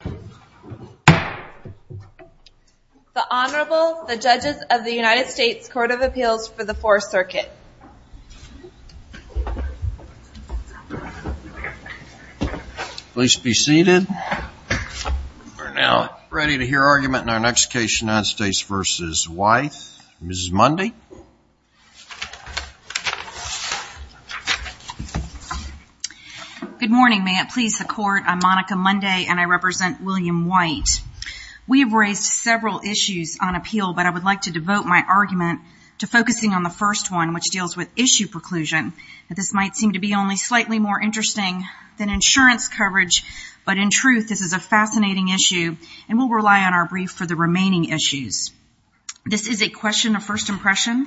The Honorable, the Judges of the United States Court of Appeals for the Fourth Circuit. Please be seated. We're now ready to hear argument in our next case, United States v. Whyte. Mrs. Mundy. Good morning. May it please the Court, I'm Monica Mundy, and I represent William Whyte. We have raised several issues on appeal, but I would like to devote my argument to focusing on the first one, which deals with issue preclusion. This might seem to be only slightly more interesting than insurance coverage, but in truth, this is a fascinating issue, and we'll rely on first impression,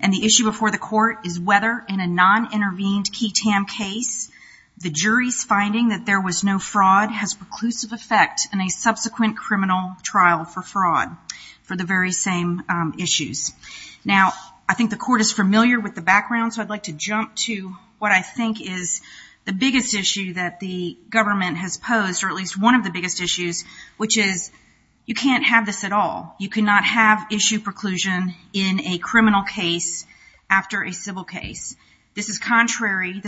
and the issue before the Court is whether, in a non-intervened KETAM case, the jury's finding that there was no fraud has preclusive effect in a subsequent criminal trial for fraud for the very same issues. Now, I think the Court is familiar with the background, so I'd like to jump to what I think is the biggest issue that the government has posed, or at least one of the biggest issues, which is you can't have this preclusion in a criminal case after a civil case. This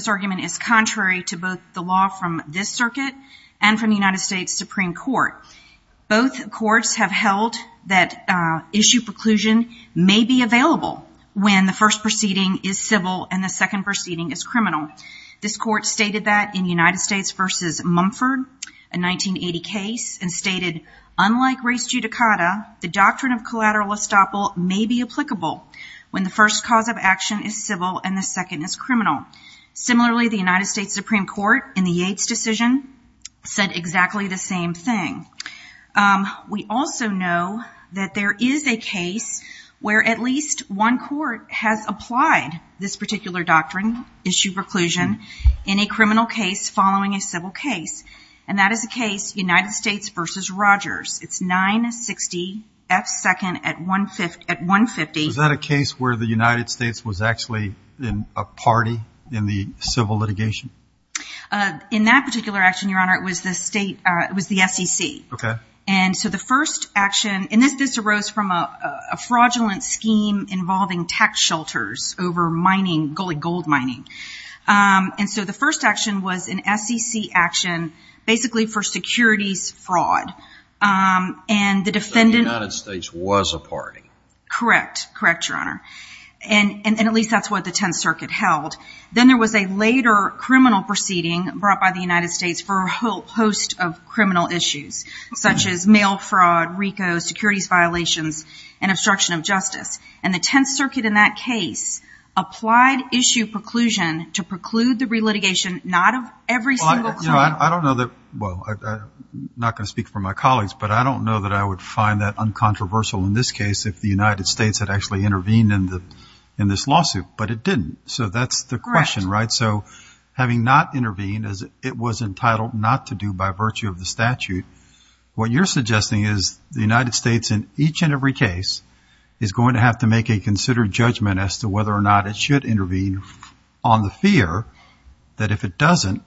argument is contrary to both the law from this circuit and from the United States Supreme Court. Both courts have held that issue preclusion may be available when the first proceeding is civil and the second proceeding is criminal. This Court stated that in United States v. Mumford, a 1980 case, and stated, unlike race judicata, the doctrine of collateral estoppel may be applicable when the first cause of action is civil and the second is criminal. Similarly, the United States Supreme Court, in the Yates decision, said exactly the same thing. We also know that there is a case where at least one court has applied this particular doctrine, issue preclusion, in a criminal case following a civil case, and that is the case United States v. Rogers. It's 960 F. 2nd at 150. Was that a case where the United States was actually a party in the civil litigation? In that particular action, Your Honor, it was the SEC. Okay. And so the first action, and this arose from a fraudulent scheme involving tax shelters over mining, gold mining. And so the first action was an SEC action basically for securities fraud. And the defendant... So the United States was a party. Correct. Correct, Your Honor. And at least that's what the Tenth Circuit held. Then there was a later criminal proceeding brought by the United States for a host of criminal issues, such as mail fraud, RICO, securities violations, and obstruction of justice. And the Tenth Circuit in that case applied issue preclusion to preclude the re-litigation not of every single client... Well, I don't know that... Well, I'm not going to speak for my colleagues, but I don't know that I would find that uncontroversial in this case if the United States had actually intervened in this lawsuit. But it didn't. So that's the question, right? Correct. So what you're suggesting is the United States in each and every case is going to have to make a considered judgment as to whether or not it should intervene on the fear that if it doesn't,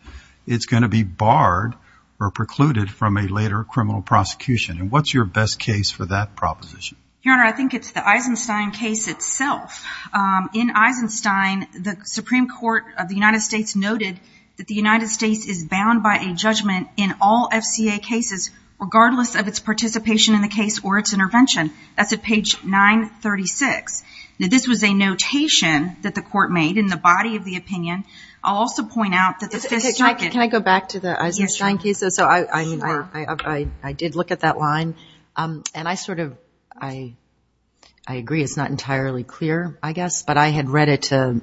it's going to be barred or precluded from a later criminal prosecution. And what's your best case for that proposition? Your Honor, I think it's the Eisenstein case itself. In Eisenstein, the Supreme Court of the United States noted that the United States is bound by a judgment in all FCA cases regardless of its participation in the case or its intervention. That's at page 936. Now, this was a notation that the court made in the body of the opinion. I'll also point out that the Fifth Circuit... Can I go back to the Eisenstein case? Yes, sure. So I did look at that line, and I sort of, I agree it's not entirely clear, I guess, but I had read it to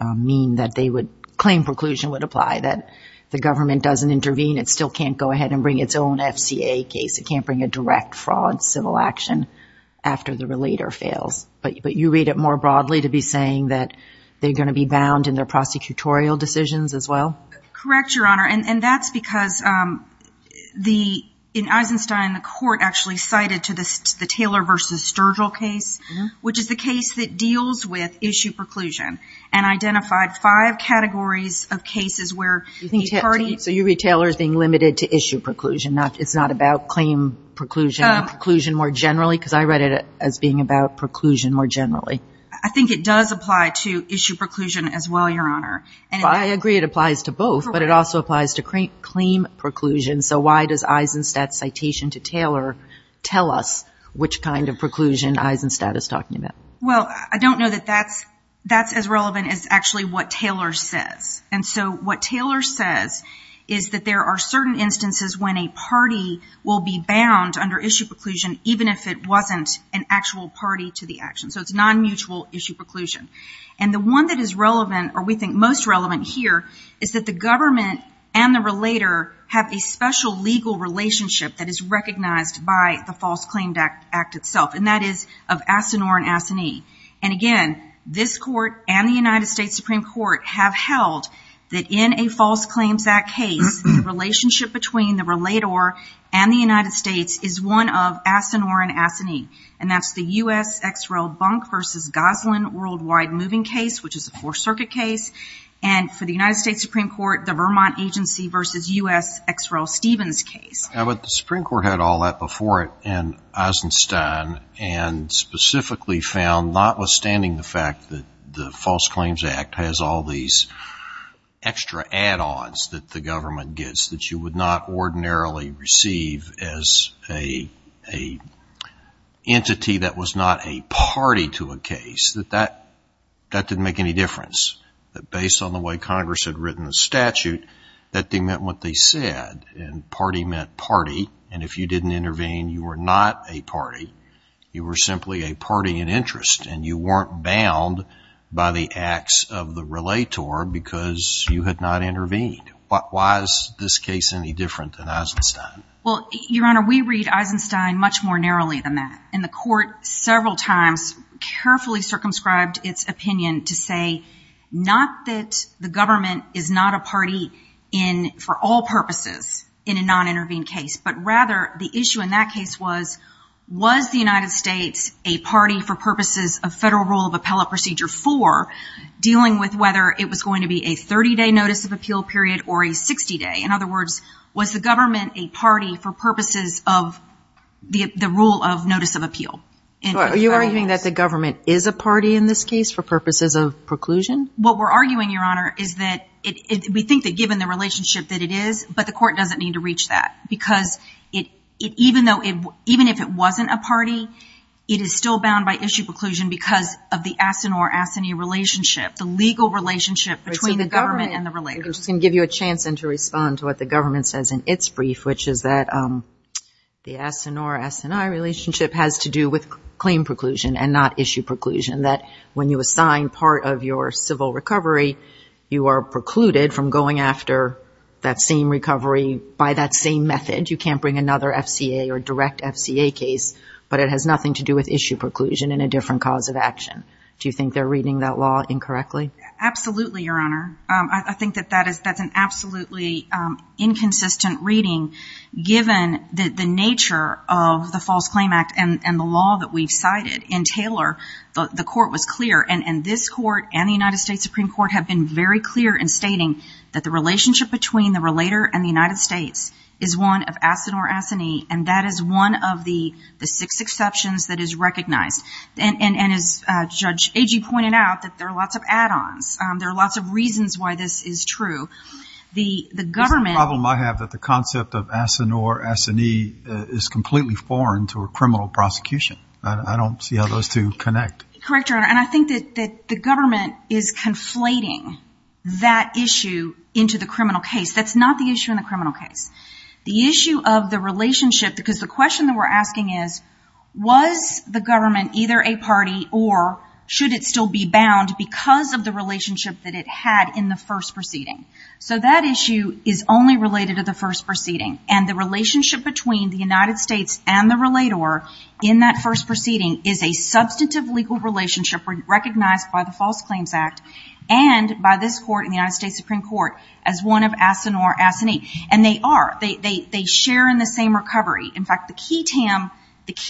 mean that they would claim preclusion would apply, that the government doesn't intervene, it still can't go ahead and bring its own FCA case, it can't bring a direct fraud civil action after the relator fails. But you read it more broadly to be saying that they're going to be bound in their prosecutorial decisions as well? Correct, Your Honor, and that's because the, in Eisenstein, the court actually cited to the Taylor versus Sturgill case, which is the case that deals with issue preclusion, and identified five So you read Taylor as being limited to issue preclusion, it's not about claim preclusion more generally, because I read it as being about preclusion more generally. I think it does apply to issue preclusion as well, Your Honor. Well, I agree it applies to both, but it also applies to claim preclusion, so why does Eisenstein's citation to Taylor tell us which kind of preclusion Eisenstein is talking about? Well, I don't know that that's as relevant as actually what Taylor says. And so what Taylor says is that there are certain instances when a party will be bound under issue preclusion, even if it wasn't an actual party to the action. So it's non-mutual issue preclusion. And the one that is relevant, or we think most relevant here, is that the government and the relator have a special legal relationship that is recognized by the False Claim Act itself, and that is of Asinor and Asinie. And again, this court and the United States Supreme Court have held that in a False Claims Act case, the relationship between the relator and the United States is one of Asinor and Asinie. And that's the U.S. X. Rel. Bunk v. Goslin Worldwide Moving Case, which is a Fourth Circuit case. And for the United States Supreme Court, the Vermont Agency v. U.S. X. Rel. Stevens case. Now, but the Supreme Court had all that before it in Eisenstein, and specifically found, notwithstanding the fact that the False Claims Act has all these extra add-ons that the government gets that you would not ordinarily receive as a entity that was not a party to a case, that that didn't make any difference. That based on the way Congress had written the statute, that they meant what they said. And if you didn't intervene, you were not a party. You were simply a party in interest, and you weren't bound by the acts of the relator because you had not intervened. Why is this case any different than Eisenstein? Well, Your Honor, we read Eisenstein much more narrowly than that. And the court several times carefully circumscribed its opinion to say not that the government is not a party for all purposes in a non-intervened case, but rather the issue in that case was, was the United States a party for purposes of federal rule of appellate procedure for dealing with whether it was going to be a 30-day notice of appeal period or a 60-day? In other words, was the government a party for purposes of the rule of notice of appeal? Are you arguing that the government is a party in this case for purposes of preclusion? What we're arguing, Your Honor, is that we think that given the relationship that it is, but the court doesn't need to reach that because even if it wasn't a party, it is still bound by issue preclusion because of the asinor-asini relationship, the legal relationship between the government and the relator. I'm just going to give you a chance to respond to what the government says in its brief, which is that the asinor-asini relationship has to do with civil recovery. You are precluded from going after that same recovery by that same method. You can't bring another FCA or direct FCA case, but it has nothing to do with issue preclusion and a different cause of action. Do you think they're reading that law incorrectly? Absolutely, Your Honor. I think that that is, that's an absolutely inconsistent reading given the nature of the False Claim Act and the law that we've cited. In Taylor, the court was clear, and this court and the United States Supreme Court have been very clear in stating that the relationship between the relator and the United States is one of asinor-asini, and that is one of the six exceptions that is recognized. And as Judge Agee pointed out, that there are lots of add-ons. There are lots of reasons why this is true. The government It's a problem I have that the concept of asinor-asini is completely foreign to a criminal prosecution. I don't see how those two connect. Correct, Your Honor. And I think that the government is conflating that issue into the criminal case. That's not the issue in the criminal case. The issue of the relationship, because the question that we're asking is, was the government either a party or should it still be bound because of the relationship that it had in the first proceeding? So that issue is only related to the first proceeding. And the relationship between the United States and the relator in that first proceeding is a substantive legal relationship recognized by the False Claims Act and by this court and the United States Supreme Court as one of asinor-asini. And they are. They share in the same recovery. In fact, the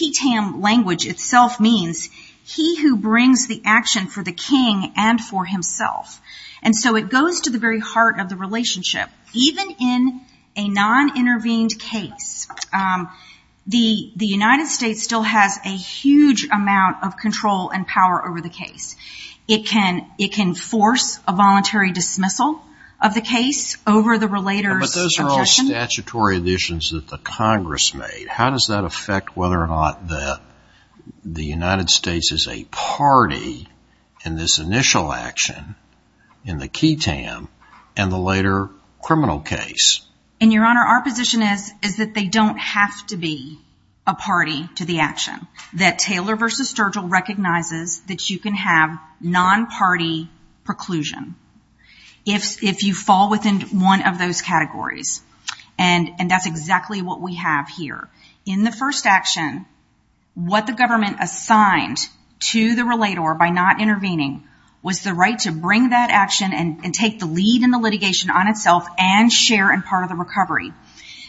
ketam language itself means he who brings the action for the king and for himself. And so it goes to the very heart of the relationship. Even in a non-intervened case, the United States still has a huge amount of control and power over the case. It can force a voluntary dismissal of the case over the relator's suggestion. But those are all statutory additions that the Congress made. How does that affect whether or not the United States is a party in this and the later criminal case? And Your Honor, our position is that they don't have to be a party to the action. That Taylor v. Sturgill recognizes that you can have non-party preclusion if you fall within one of those categories. And that's exactly what we have here. In the first action, what the government assigned to the relator by not intervening was the right to bring that action and take the lead in the litigation on itself and share in part of the recovery.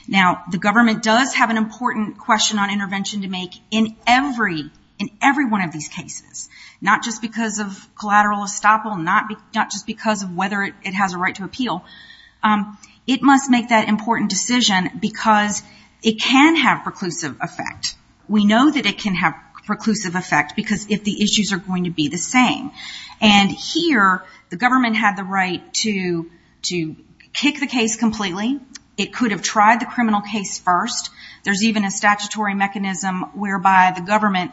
Now, the government does have an important question on intervention to make in every one of these cases. Not just because of collateral estoppel. Not just because of whether it has a right to appeal. It must make that important decision because it can have preclusive effect. We know that it can have preclusive effect because if the issues are going to be the same. And here, the government had the right to kick the case completely. It could have tried the criminal case first. There's even a statutory mechanism whereby the government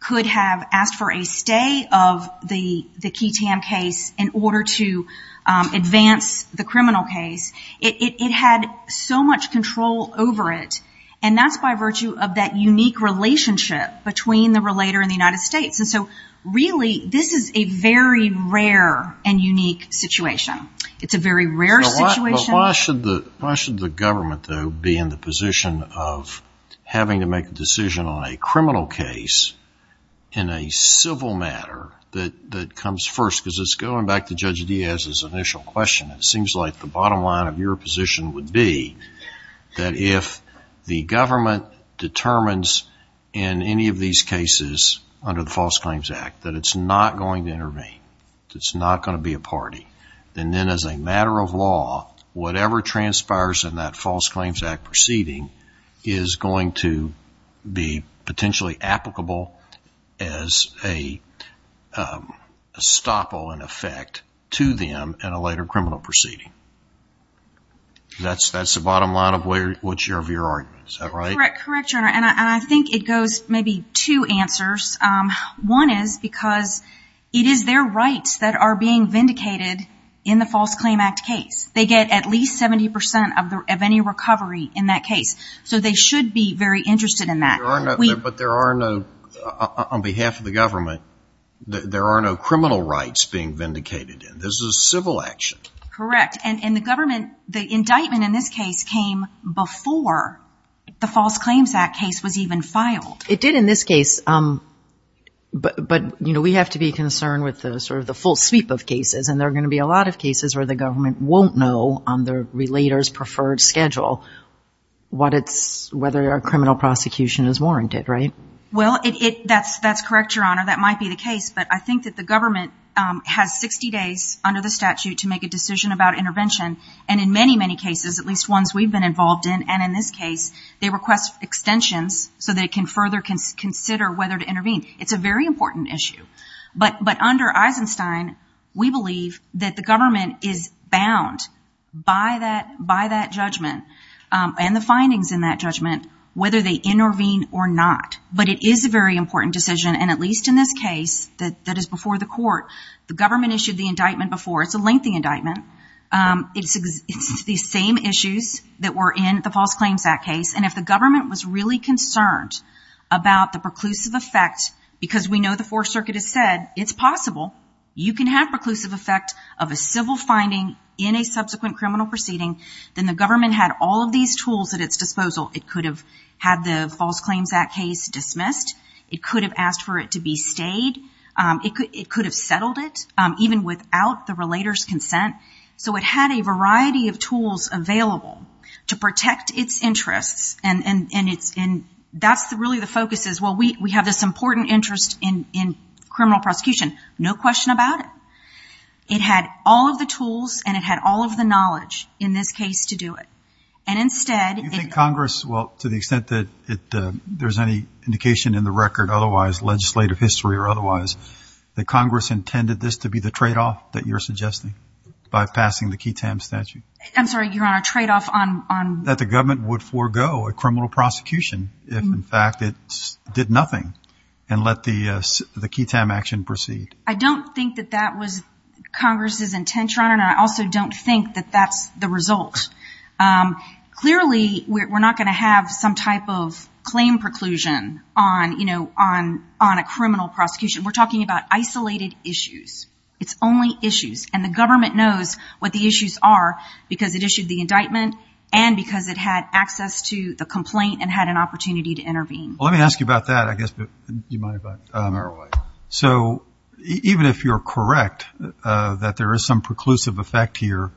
could have asked for a stay of the key TAM case in order to advance the criminal case. It had so much control over it. And that's by virtue of that unique relationship between the relator and the United States. And so, really, this is a very rare and unique situation. It's a very rare situation. But why should the government, though, be in the position of having to make a decision on a criminal case in a civil matter that comes first? Because it's going back to Judge Diaz's initial question. It seems like the bottom line of your position would be that if the government determines in any of these cases under the False Claims Act that it's not going to intervene, that it's not going to be a party, then then as a matter of law, whatever transpires in that False Claims Act proceeding is going to be potentially applicable as a stopple, in effect, to them in a later criminal proceeding. That's the bottom line of which of your arguments. Is that right? Correct, Your Honor. And I think it goes maybe two answers. One is because it is their rights that are being vindicated in the False Claims Act case. They get at least 70% of any recovery in that case. So they should be very interested in that. But there are no, on behalf of the government, there are no criminal rights being vindicated in. This is a civil action. Correct. And the government, the indictment in this case came before the False Claims Act case was even filed. It did in this case. But, you know, we have to be concerned with the sort of the full sweep of cases. And there are going to be a lot of cases where the government won't know on their relator's preferred schedule what it's, whether a criminal prosecution is warranted, right? Well, that's correct, Your Honor. That might be the case. But I think that the government has 60 days under the statute to make a decision about intervention. And in many, many cases, at least ones we've been involved in, and in this case, they request extensions so that it can further consider whether to intervene. It's a very important issue. But under Eisenstein, we believe that the government is bound by that judgment and the findings in that judgment, whether they intervene or not. But it is a very important decision. And at least in this case that is before the court, the government issued the indictment before. It's a lengthy indictment. It's the same issues that were in the False Claims Act case. And if the government was really concerned about the preclusive effect, because we know the Fourth Circuit has said it's possible, you can have preclusive effect of a civil finding in a subsequent criminal proceeding, then the government had all of these tools at its disposal. It could have had the False Claims Act case dismissed. It could have asked for it to be stayed. It could have settled it, even without the relator's consent. So it had a variety of tools available to protect its interests. And that's really the focus is, well, we have this important interest in criminal prosecution, no question about it. It had all of the tools and it had all of the knowledge in this case to do it. And instead... Do you think Congress, well, to the extent that there's any indication in the record, otherwise legislative history or otherwise, that Congress intended this to be the trade-off that you're suggesting by passing the QETAM statute? I'm sorry, Your Honor, trade-off on... That the government would forego a criminal prosecution if, in fact, it did nothing and let the QETAM action proceed. I don't think that that was Congress's intention, Your Honor. And I also don't think that that's the result. Clearly, we're not going to have some type of claim preclusion on a criminal prosecution. We're talking about isolated issues. It's only issues. And the government knows what the issues are because it issued the indictment and because it had access to the complaint and had an opportunity to intervene. Well, let me ask you about that, I guess, but you might have a better way. So even if you're correct, that there is some preclusive effect here,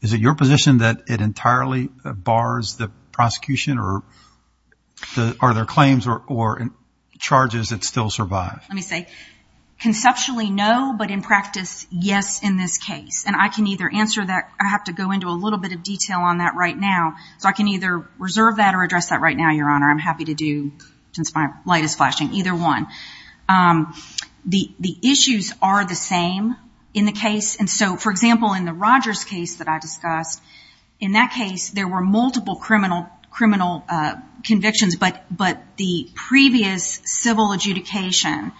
is it your position that it entirely bars the prosecution or are there claims or charges that still survive? Let me say, conceptually, no, but in practice, yes, in this case. And I can either answer that. I have to go into a little bit of detail on that right now. So I can either reserve that or address that right now, Your Honor. I'm happy to do, since my light is flashing, either one. The issues are the same in the case. And so, for example, in the Rogers case that I discussed, in that case, there were multiple criminal convictions, but the previous civil adjudication,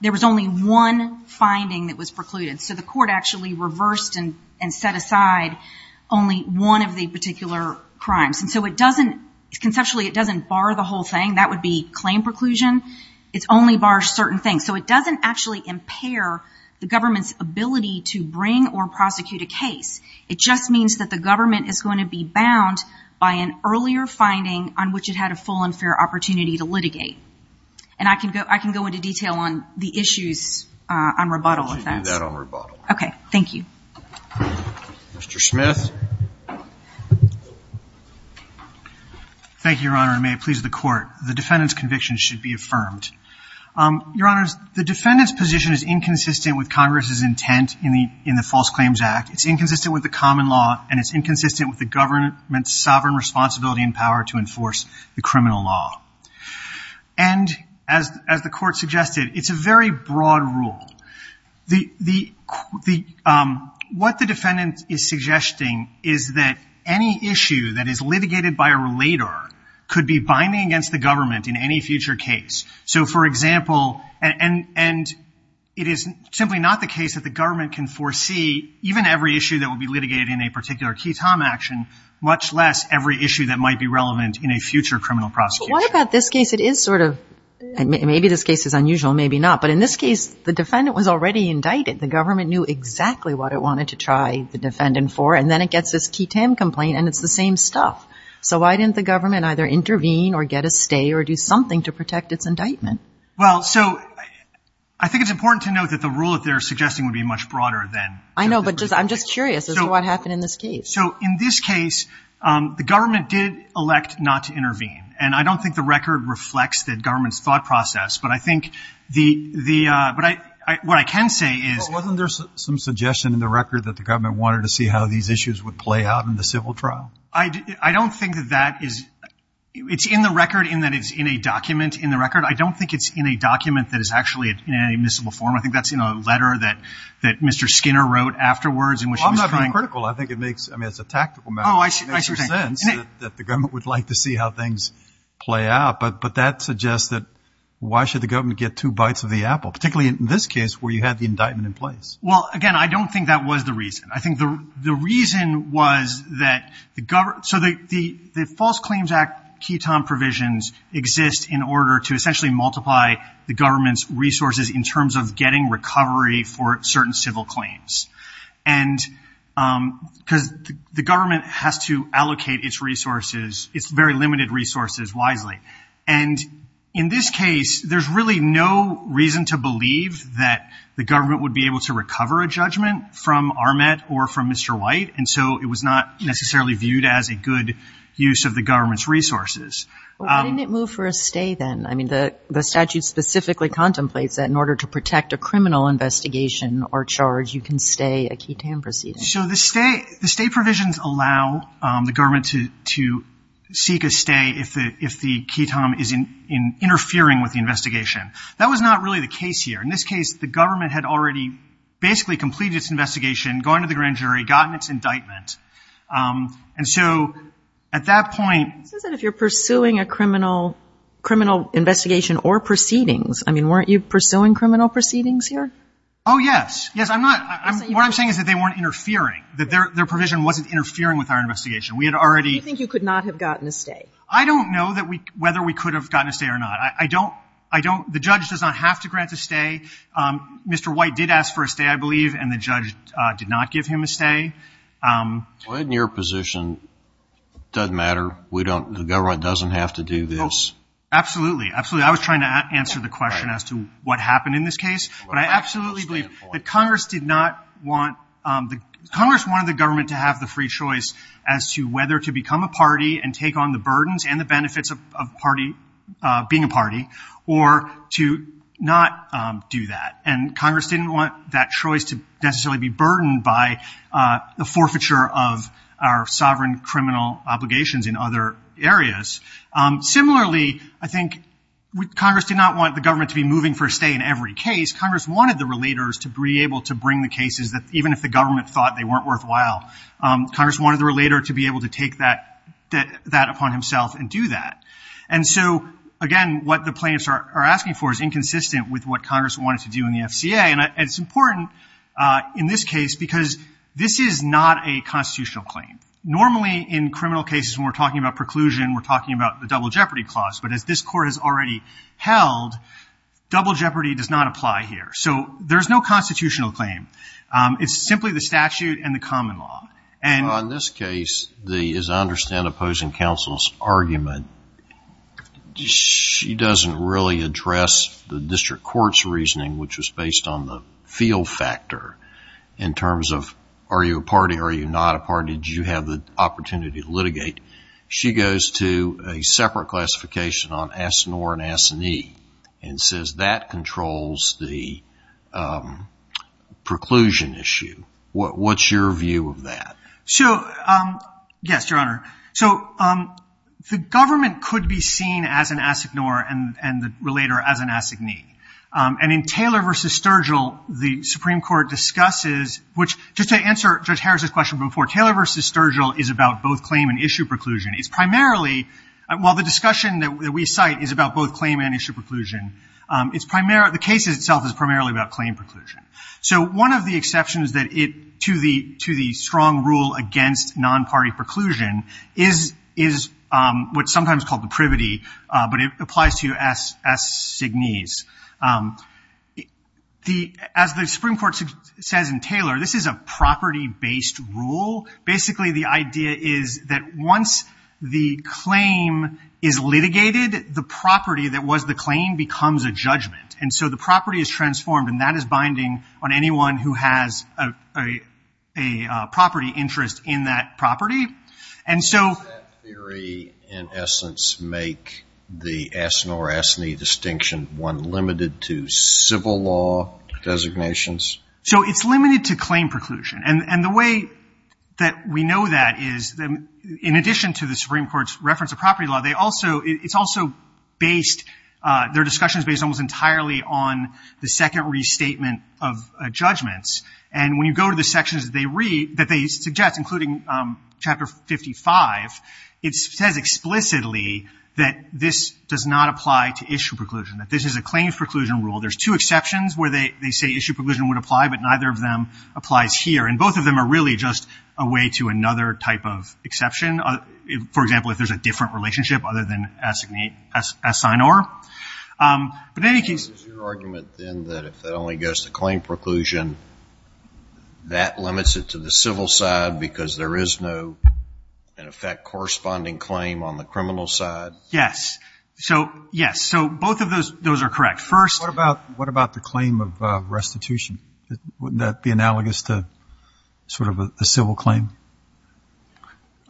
there was only one finding that was precluded. So the court actually reversed and set aside only one of the particular crimes. And so it doesn't, conceptually, it only bars certain things. So it doesn't actually impair the government's ability to bring or prosecute a case. It just means that the government is going to be bound by an earlier finding on which it had a full and fair opportunity to litigate. And I can go into detail on the issues on rebuttal. I'll let you do that on rebuttal. Okay, thank you. Mr. Smith. Thank you, Your Honor, and may it please the Court. The defendant's conviction should be confirmed. Your Honor, the defendant's position is inconsistent with Congress's intent in the False Claims Act. It's inconsistent with the common law, and it's inconsistent with the government's sovereign responsibility and power to enforce the criminal law. And as the Court suggested, it's a very broad rule. What the defendant is suggesting is that any issue that is litigated by a relator could be binding against the government in any future case. So, for example, and it is simply not the case that the government can foresee even every issue that would be litigated in a particular ketam action, much less every issue that might be relevant in a future criminal prosecution. But what about this case? It is sort of, maybe this case is unusual, maybe not. But in this case, the defendant was already indicted. The government knew exactly what it wanted to try the defendant for, and then it gets this ketam complaint, and it's the same stuff. So why didn't the government either intervene or get a stay or do something to protect its indictment? Well, so, I think it's important to note that the rule that they're suggesting would be much broader than... I know, but I'm just curious as to what happened in this case. So in this case, the government did elect not to intervene. And I don't think the record reflects the government's thought process, but I think the, but what I can say is... But wasn't there some suggestion in the record that the government wanted to see how these issues would play out in the civil trial? I don't think that that is... It's in the record in that it's in a document in the record. I don't think it's in a document that is actually in any admissible form. I think that's in a letter that Mr. Skinner wrote afterwards in which he was trying... Well, I'm not being critical. I think it makes, I mean, it's a tactical matter. Oh, I see what you're saying. It makes sense that the government would like to see how things play out. But that suggests that why should the government get two bites of the apple, particularly in this case where you had the indictment in place? Well, again, I don't think that was the reason. I think the reason was that the government... So the False Claims Act ketone provisions exist in order to essentially multiply the government's resources in terms of getting recovery for certain civil claims. And because the government has to allocate its resources, its very limited resources wisely. And in this case, there's really no reason to believe that the government would be able to recover a judgment from Armet or from Mr. White. And so it was not necessarily viewed as a good use of the government's resources. Well, why didn't it move for a stay then? I mean, the statute specifically contemplates that in order to protect a criminal investigation or charge, you can stay a ketone proceeding. So the stay provisions allow the government to seek a stay if the ketone is in interference with the investigation. That was not really the case here. In this case, the government had already basically completed its investigation, gone to the grand jury, gotten its indictment. And so at that point... It says that if you're pursuing a criminal investigation or proceedings, I mean, weren't you pursuing criminal proceedings here? Oh, yes. Yes, I'm not. What I'm saying is that they weren't interfering, that their provision wasn't interfering with our investigation. We had already... Do you think you could not have gotten a stay? I don't know whether we could have gotten a stay or not. I don't... The judge does not have to grant a stay. Mr. White did ask for a stay, I believe, and the judge did not give him a stay. Well, in your position, it doesn't matter. We don't... The government doesn't have to do this. Oh, absolutely. Absolutely. I was trying to answer the question as to what happened in this case. But I absolutely believe that Congress did not want... Congress wanted the government to have the free choice as to whether to become a party and take on the burdens and the benefits of being a party, or to not do that. And Congress didn't want that choice to necessarily be burdened by the forfeiture of our sovereign criminal obligations in other areas. Similarly, I think Congress did not want the government to be moving for a stay in every case. Congress wanted the relators to be able to bring the Congress wanted the relator to be able to take that upon himself and do that. And so, again, what the plaintiffs are asking for is inconsistent with what Congress wanted to do in the FCA. And it's important in this case because this is not a constitutional claim. Normally in criminal cases when we're talking about preclusion, we're talking about the double jeopardy clause. But as this court has already held, double jeopardy does not apply here. So there's no constitutional claim. It's simply the statute and the common law. In this case, as I understand opposing counsel's argument, she doesn't really address the district court's reasoning, which was based on the field factor in terms of are you a party, are you not a party, do you have the opportunity to litigate? She goes to a separate classification on asinor and asignee and says that controls the preclusion issue. What's your view of that? So, yes, Your Honor. So the government could be seen as an asinor and the relator as an asignee. And in Taylor v. Sturgill, the Supreme Court discusses, which just to answer Judge Harris' question before, Taylor v. Sturgill is about both claim and issue preclusion. It's primarily, while the discussion that we cite is about both claim and issue preclusion, the case itself is primarily about claim preclusion. So one of the exceptions to the strong rule against non-party preclusion is what's sometimes called the privity, but it applies to asignees. As the Supreme Court says in Taylor, this is a property-based rule. Basically, the idea is that once the claim is litigated, the property that was the claim becomes a judgment. And so the property is transformed and that is binding on anyone who has a property interest in that property. And does that theory in essence make the asinor-asignee distinction one limited to civil law designations? So it's limited to claim preclusion. And the way that we know that is, in addition to the Supreme Court's reference of property law, they also, it's also based, their discussion is based almost entirely on the second restatement of judgments. And when you go to the sections that they read, that they suggest, including Chapter 55, it says explicitly that this does not apply to issue preclusion, that this is a claims preclusion rule. There's two exceptions where they say issue preclusion would apply, but neither of them applies here. And both of them are really just a way to another type of exception. For example, if there's a different relationship other than asignee, asinor. But in any case Is your argument, then, that if that only goes to claim preclusion, that limits it to the civil side because there is no, in effect, corresponding claim on the criminal side? Yes. So, yes. So both of those are correct. First What about, what about the claim of restitution? Wouldn't that be analogous to sort of a civil claim?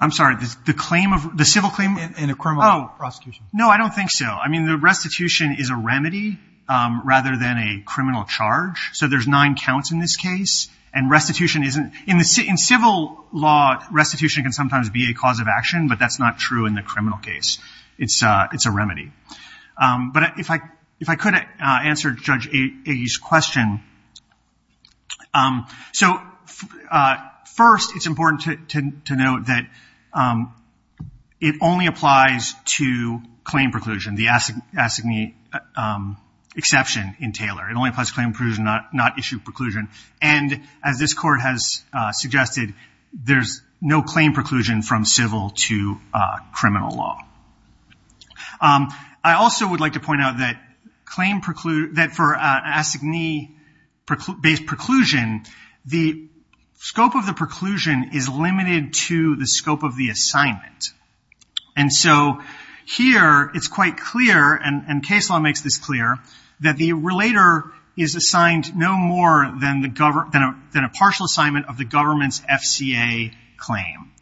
I'm sorry, the claim of, the civil claim? In a criminal prosecution. No, I don't think so. I mean, the restitution is a remedy rather than a criminal charge. So there's nine counts in this case. And restitution isn't, in civil law, restitution can sometimes be a cause of action, but that's not true in the criminal case. It's a, it's a remedy. But if I, if I could answer Judge Agye's question. So first, it's important to note that it only applies to claim preclusion, the asignee exception in Taylor. It only applies to claim preclusion, not, not issue preclusion. And as this court has suggested, there's no claim preclusion from civil to criminal law. I also would like to point out that claim preclude, that for asignee based preclusion, the scope of the preclusion is limited to the scope of the assignment. And so here it's quite clear, and case law makes this clear, that the relator is assigned no more than a partial assignment of the government's FCA claim.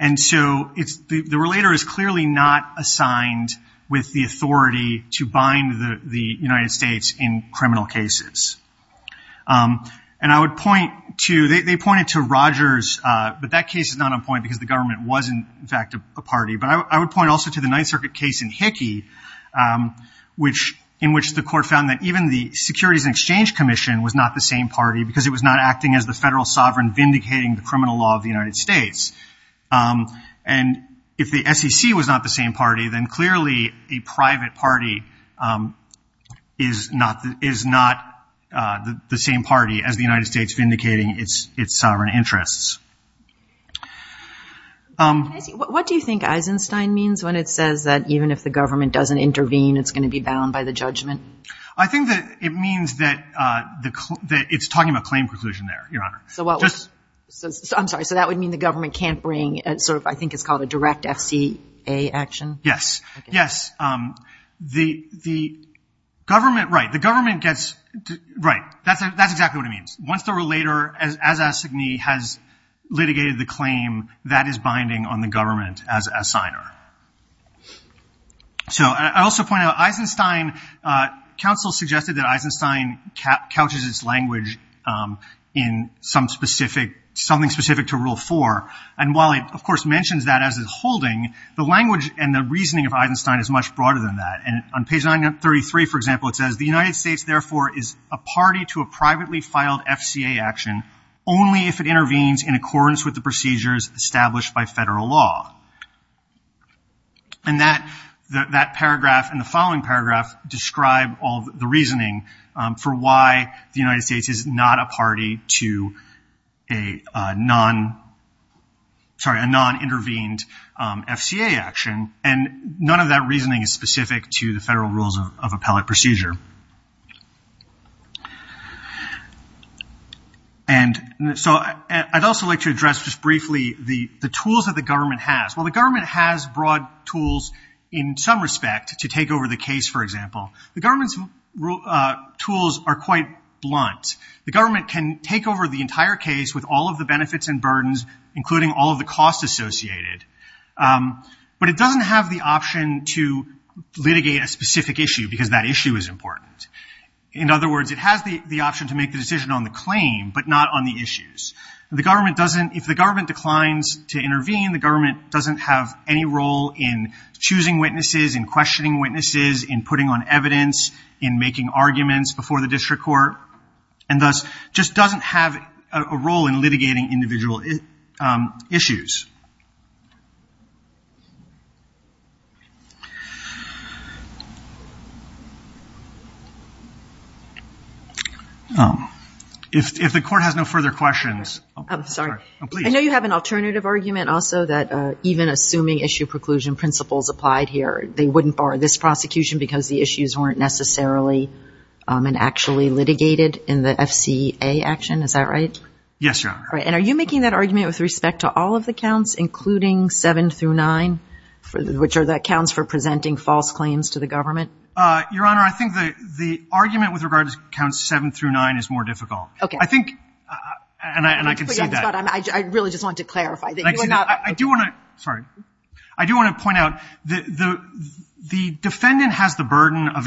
And so it's, the relator is clearly not assigned with the authority to bind the United States in criminal cases. And I would point to, they pointed to Rogers, but that case is not on point because the government wasn't, in fact, a party. But I would point also to the Ninth Circuit case in Hickey, which, in which the court found that even the Securities and Exchange Commission was not the same party because it was not acting as the federal sovereign vindicating the criminal law of the United States. And if the SEC was not the same party, then clearly a private party is not, is not the same party as the United States vindicating its, its sovereign interests. What do you think Eisenstein means when it says that even if the government doesn't intervene, it's going to be bound by the judgment? I think that it means that the, that it's talking about claim preclusion there, Your Honor. So what was, I'm sorry, so that would mean the government can't bring a sort of, I think it's called a direct FCA action? Yes. Yes. The, the government, right, the government gets, right, that's, that's exactly what it means. Once the relator as, as a signee has litigated the claim, that is binding on the government as a signer. So I also point out Eisenstein, counsel suggested that Eisenstein couches its language in some specific, something specific to rule four. And while it, of course, mentions that as a holding, the language and the reasoning of Eisenstein is much broader than that. And on page 933, for example, it says, the United States therefore is a party to a privately filed FCA action only if it intervenes in accordance with the procedures established by federal law. And that, that paragraph and the following paragraph describe all the reasoning for why the United States is not a party to a non, sorry, a non-intervened FCA action. And none of that reasoning is specific to the federal rules of appellate procedure. And so I, I'd also like to address just briefly the, the tools that the government has. While the government has broad tools in some respect to take over the case, for example, the government's tools are quite blunt. The government can take over the entire case with all of the benefits and burdens, including all of the costs associated. But it doesn't have the In other words, it has the, the option to make the decision on the claim, but not on the issues. The government doesn't, if the government declines to intervene, the government doesn't have any role in choosing witnesses, in questioning witnesses, in putting on evidence, in making arguments before the district court, and thus just doesn't have a, a role in litigating individual issues. If the court has no further questions, I'm sorry. I know you have an alternative argument also that even assuming issue preclusion principles applied here, they wouldn't bar this prosecution because the issues weren't necessarily and actually litigated in the FCA action. Is that right? Yes, Your Honor. Right. And are you making that argument with respect to all of the counts, including seven through nine, which are the counts for presenting false claims to the government? Your Honor, I think the, the argument with regards to counts seven through nine is more difficult. Okay. I think, and I, and I can see that. I'm sorry, I really just want to clarify that you are not I do want to, sorry. I do want to point out that the, the defendant has the burden of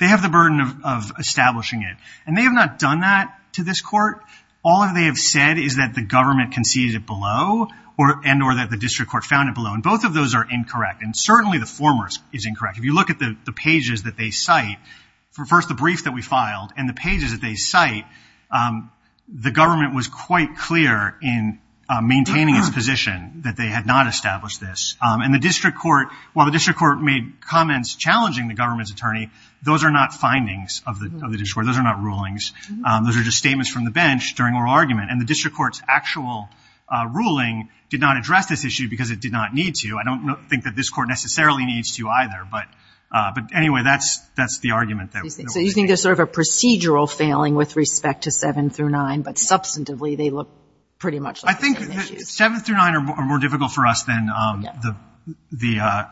They have the burden of, of establishing it. And they have not done that to this court. All they have said is that the government conceded it below or, and, or that the district court found it below. And both of those are incorrect. And certainly the former is incorrect. If you look at the pages that they cite for first, the brief that we filed and the pages that they cite, the government was quite clear in maintaining its position that they had not established this. And the district court, while the district court made comments challenging the government's attorney, those are not findings of the, of the district court. Those are not rulings. Those are just statements from the bench during oral argument. And the district court's actual ruling did not address this issue because it did not need to. I don't think that this court necessarily needs to either. But, but anyway, that's, that's the argument that So you think there's sort of a procedural failing with respect to seven through nine, but substantively they look pretty much like the same issues. Seven through nine are more difficult for us than the, the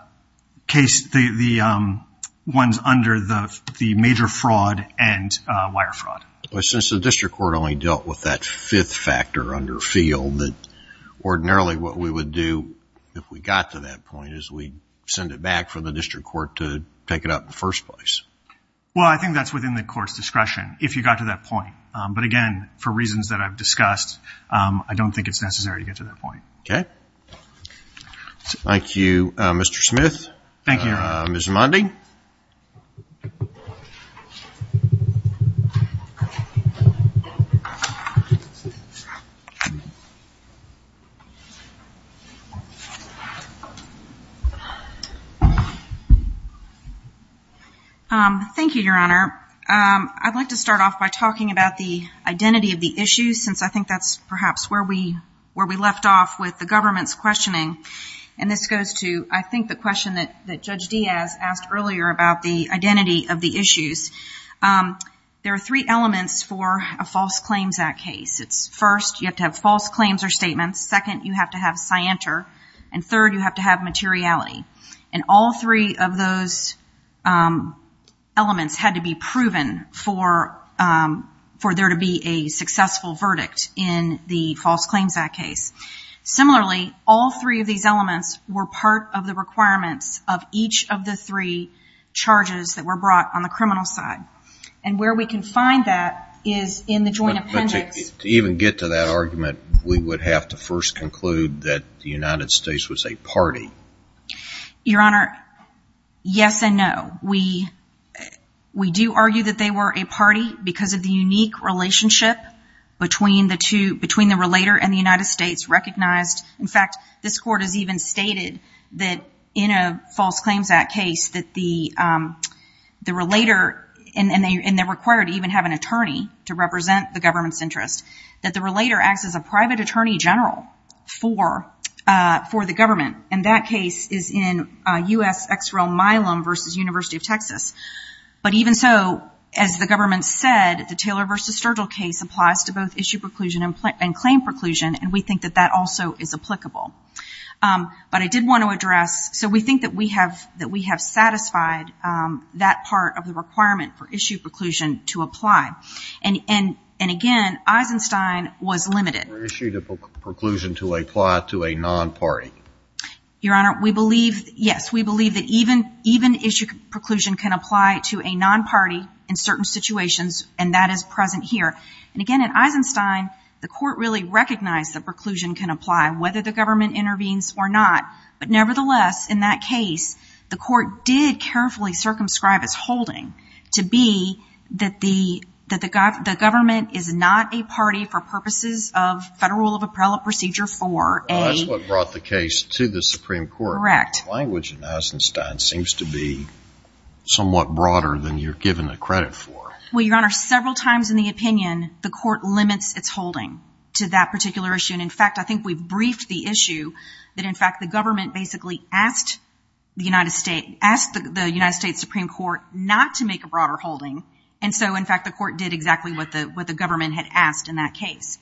case, the, the ones under the, the major fraud and wire fraud. But since the district court only dealt with that fifth factor under field that ordinarily what we would do if we got to that point is we'd send it back for the district court to take it up in the first place. Well I think that's within the court's discretion if you got to that point. But again, for reasons that I've discussed, I don't think it's necessary to get to that point. Okay. Thank you, Mr. Smith. Thank you. Ms. Mondy. Thank you, Your Honor. I'd like to start off by talking about the identity of the issue since I think that's perhaps where we, where we left off with the government's questioning. And this goes to, I think, the question that, that Judge Diaz asked earlier about the identity of the issues. There are three elements for a False Claims Act case. It's first, you have to have false claims or statements. Second, you have to have scienter. And third, you have to have materiality. And all three of those elements had to be proven for, for there to be a successful verdict in the False Claims Act case. Similarly, all three of these elements were part of the requirements of each of the three charges that were brought on the criminal side. And where we can find that is in the joint appendix. But to even get to that argument, we would have to first conclude that the United States was a party. Your Honor, yes and no. We, we do argue that they were a party because of the unique relationship between the two, between the relator and the United States recognized. In fact, this Court has even stated that in a False Claims Act case that the, the relator, and they're required to even have an attorney to represent the government's interest, that the relator acts as a private attorney general for, for the government. And that case is in U.S. ex rel Milam versus University of Texas. But even so, as the government said, the Taylor versus Sturgill case applies to both issue preclusion and, and claim preclusion. And we think that that also is applicable. But I did want to address, so we think that we have, that we have satisfied that part of the requirement for issue preclusion to apply. And, and, and again, Eisenstein was limited. For issue preclusion to apply to a non-party. Your Honor, we believe, yes, we believe that even, even issue preclusion can apply to a non-party in certain situations, and that is present here. And again, in Eisenstein, the Court really recognized that preclusion can apply, whether the government intervenes or not. But nevertheless, in that case, the Court did carefully circumscribe its holding to be that the, that the, the government is not a party for purposes of Federal Rule of Appellate Procedure 4A. That's what brought the case to the Supreme Court. Correct. The language in Eisenstein seems to be somewhat broader than you're given the credit for. Well, Your Honor, several times in the opinion, the Court limits its holding to that particular issue. And in fact, I think we've briefed the issue that in fact the government basically asked the United States, asked the United States Supreme Court not to make a broader holding. And so, in fact, the Court did exactly what the, what the government had asked in that case.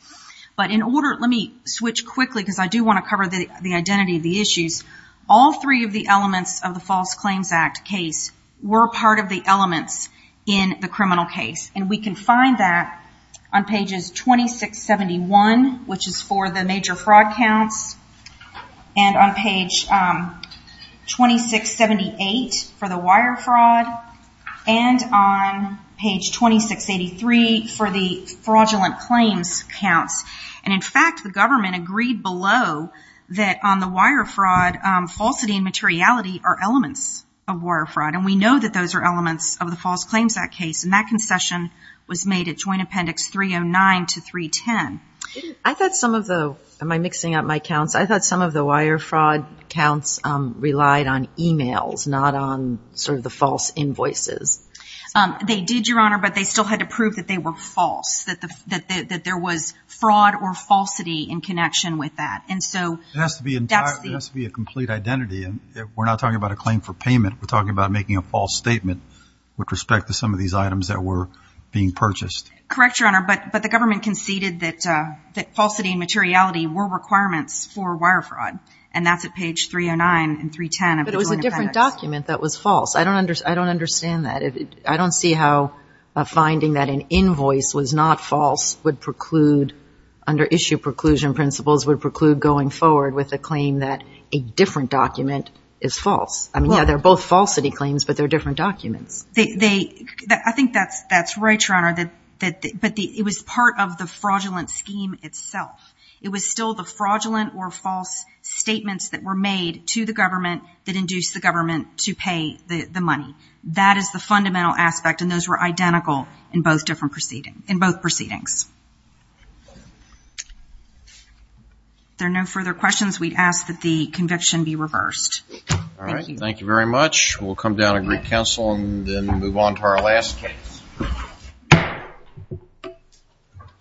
But in order, let me switch quickly because I do want to cover the identity of the issues. All three of the elements of the False Claims Act case were part of the elements in the criminal case. And we can find that on pages 2671, which is for the major fraud counts, and on page 2678 for the wire fraud, and on page 2683 for the fraudulent claims count and, in fact, the government agreed below that on the wire fraud, falsity and materiality are elements of wire fraud. And we know that those are elements of the False Claims Act case. And that concession was made at Joint Appendix 309 to 310. I thought some of the, am I mixing up my counts? I thought some of the wire fraud counts relied on emails, not on sort of the false invoices. They did, Your Honor, but they still had to prove that they were false, that there was fraud or falsity in connection with that. And so, that's the... It has to be entirely, it has to be a complete identity. We're not talking about a claim for payment. We're talking about making a false statement with respect to some of these items that were being purchased. Correct, Your Honor, but the government conceded that falsity and materiality were requirements for wire fraud. And that's at page 309 and 310 of the Joint Appendix. But it was a different document that was false. I don't understand that. I don't see how a claim that an invoice was not false would preclude, under issue preclusion principles, would preclude going forward with a claim that a different document is false. I mean, yeah, they're both falsity claims, but they're different documents. I think that's right, Your Honor, but it was part of the fraudulent scheme itself. It was still the fraudulent or false statements that were made to the government that induced the government to pay the money. That is the fundamental aspect, and those were identical in both proceedings. If there are no further questions, we'd ask that the conviction be reversed. All right, thank you very much. We'll come down to Greek Council and then move on to our last case.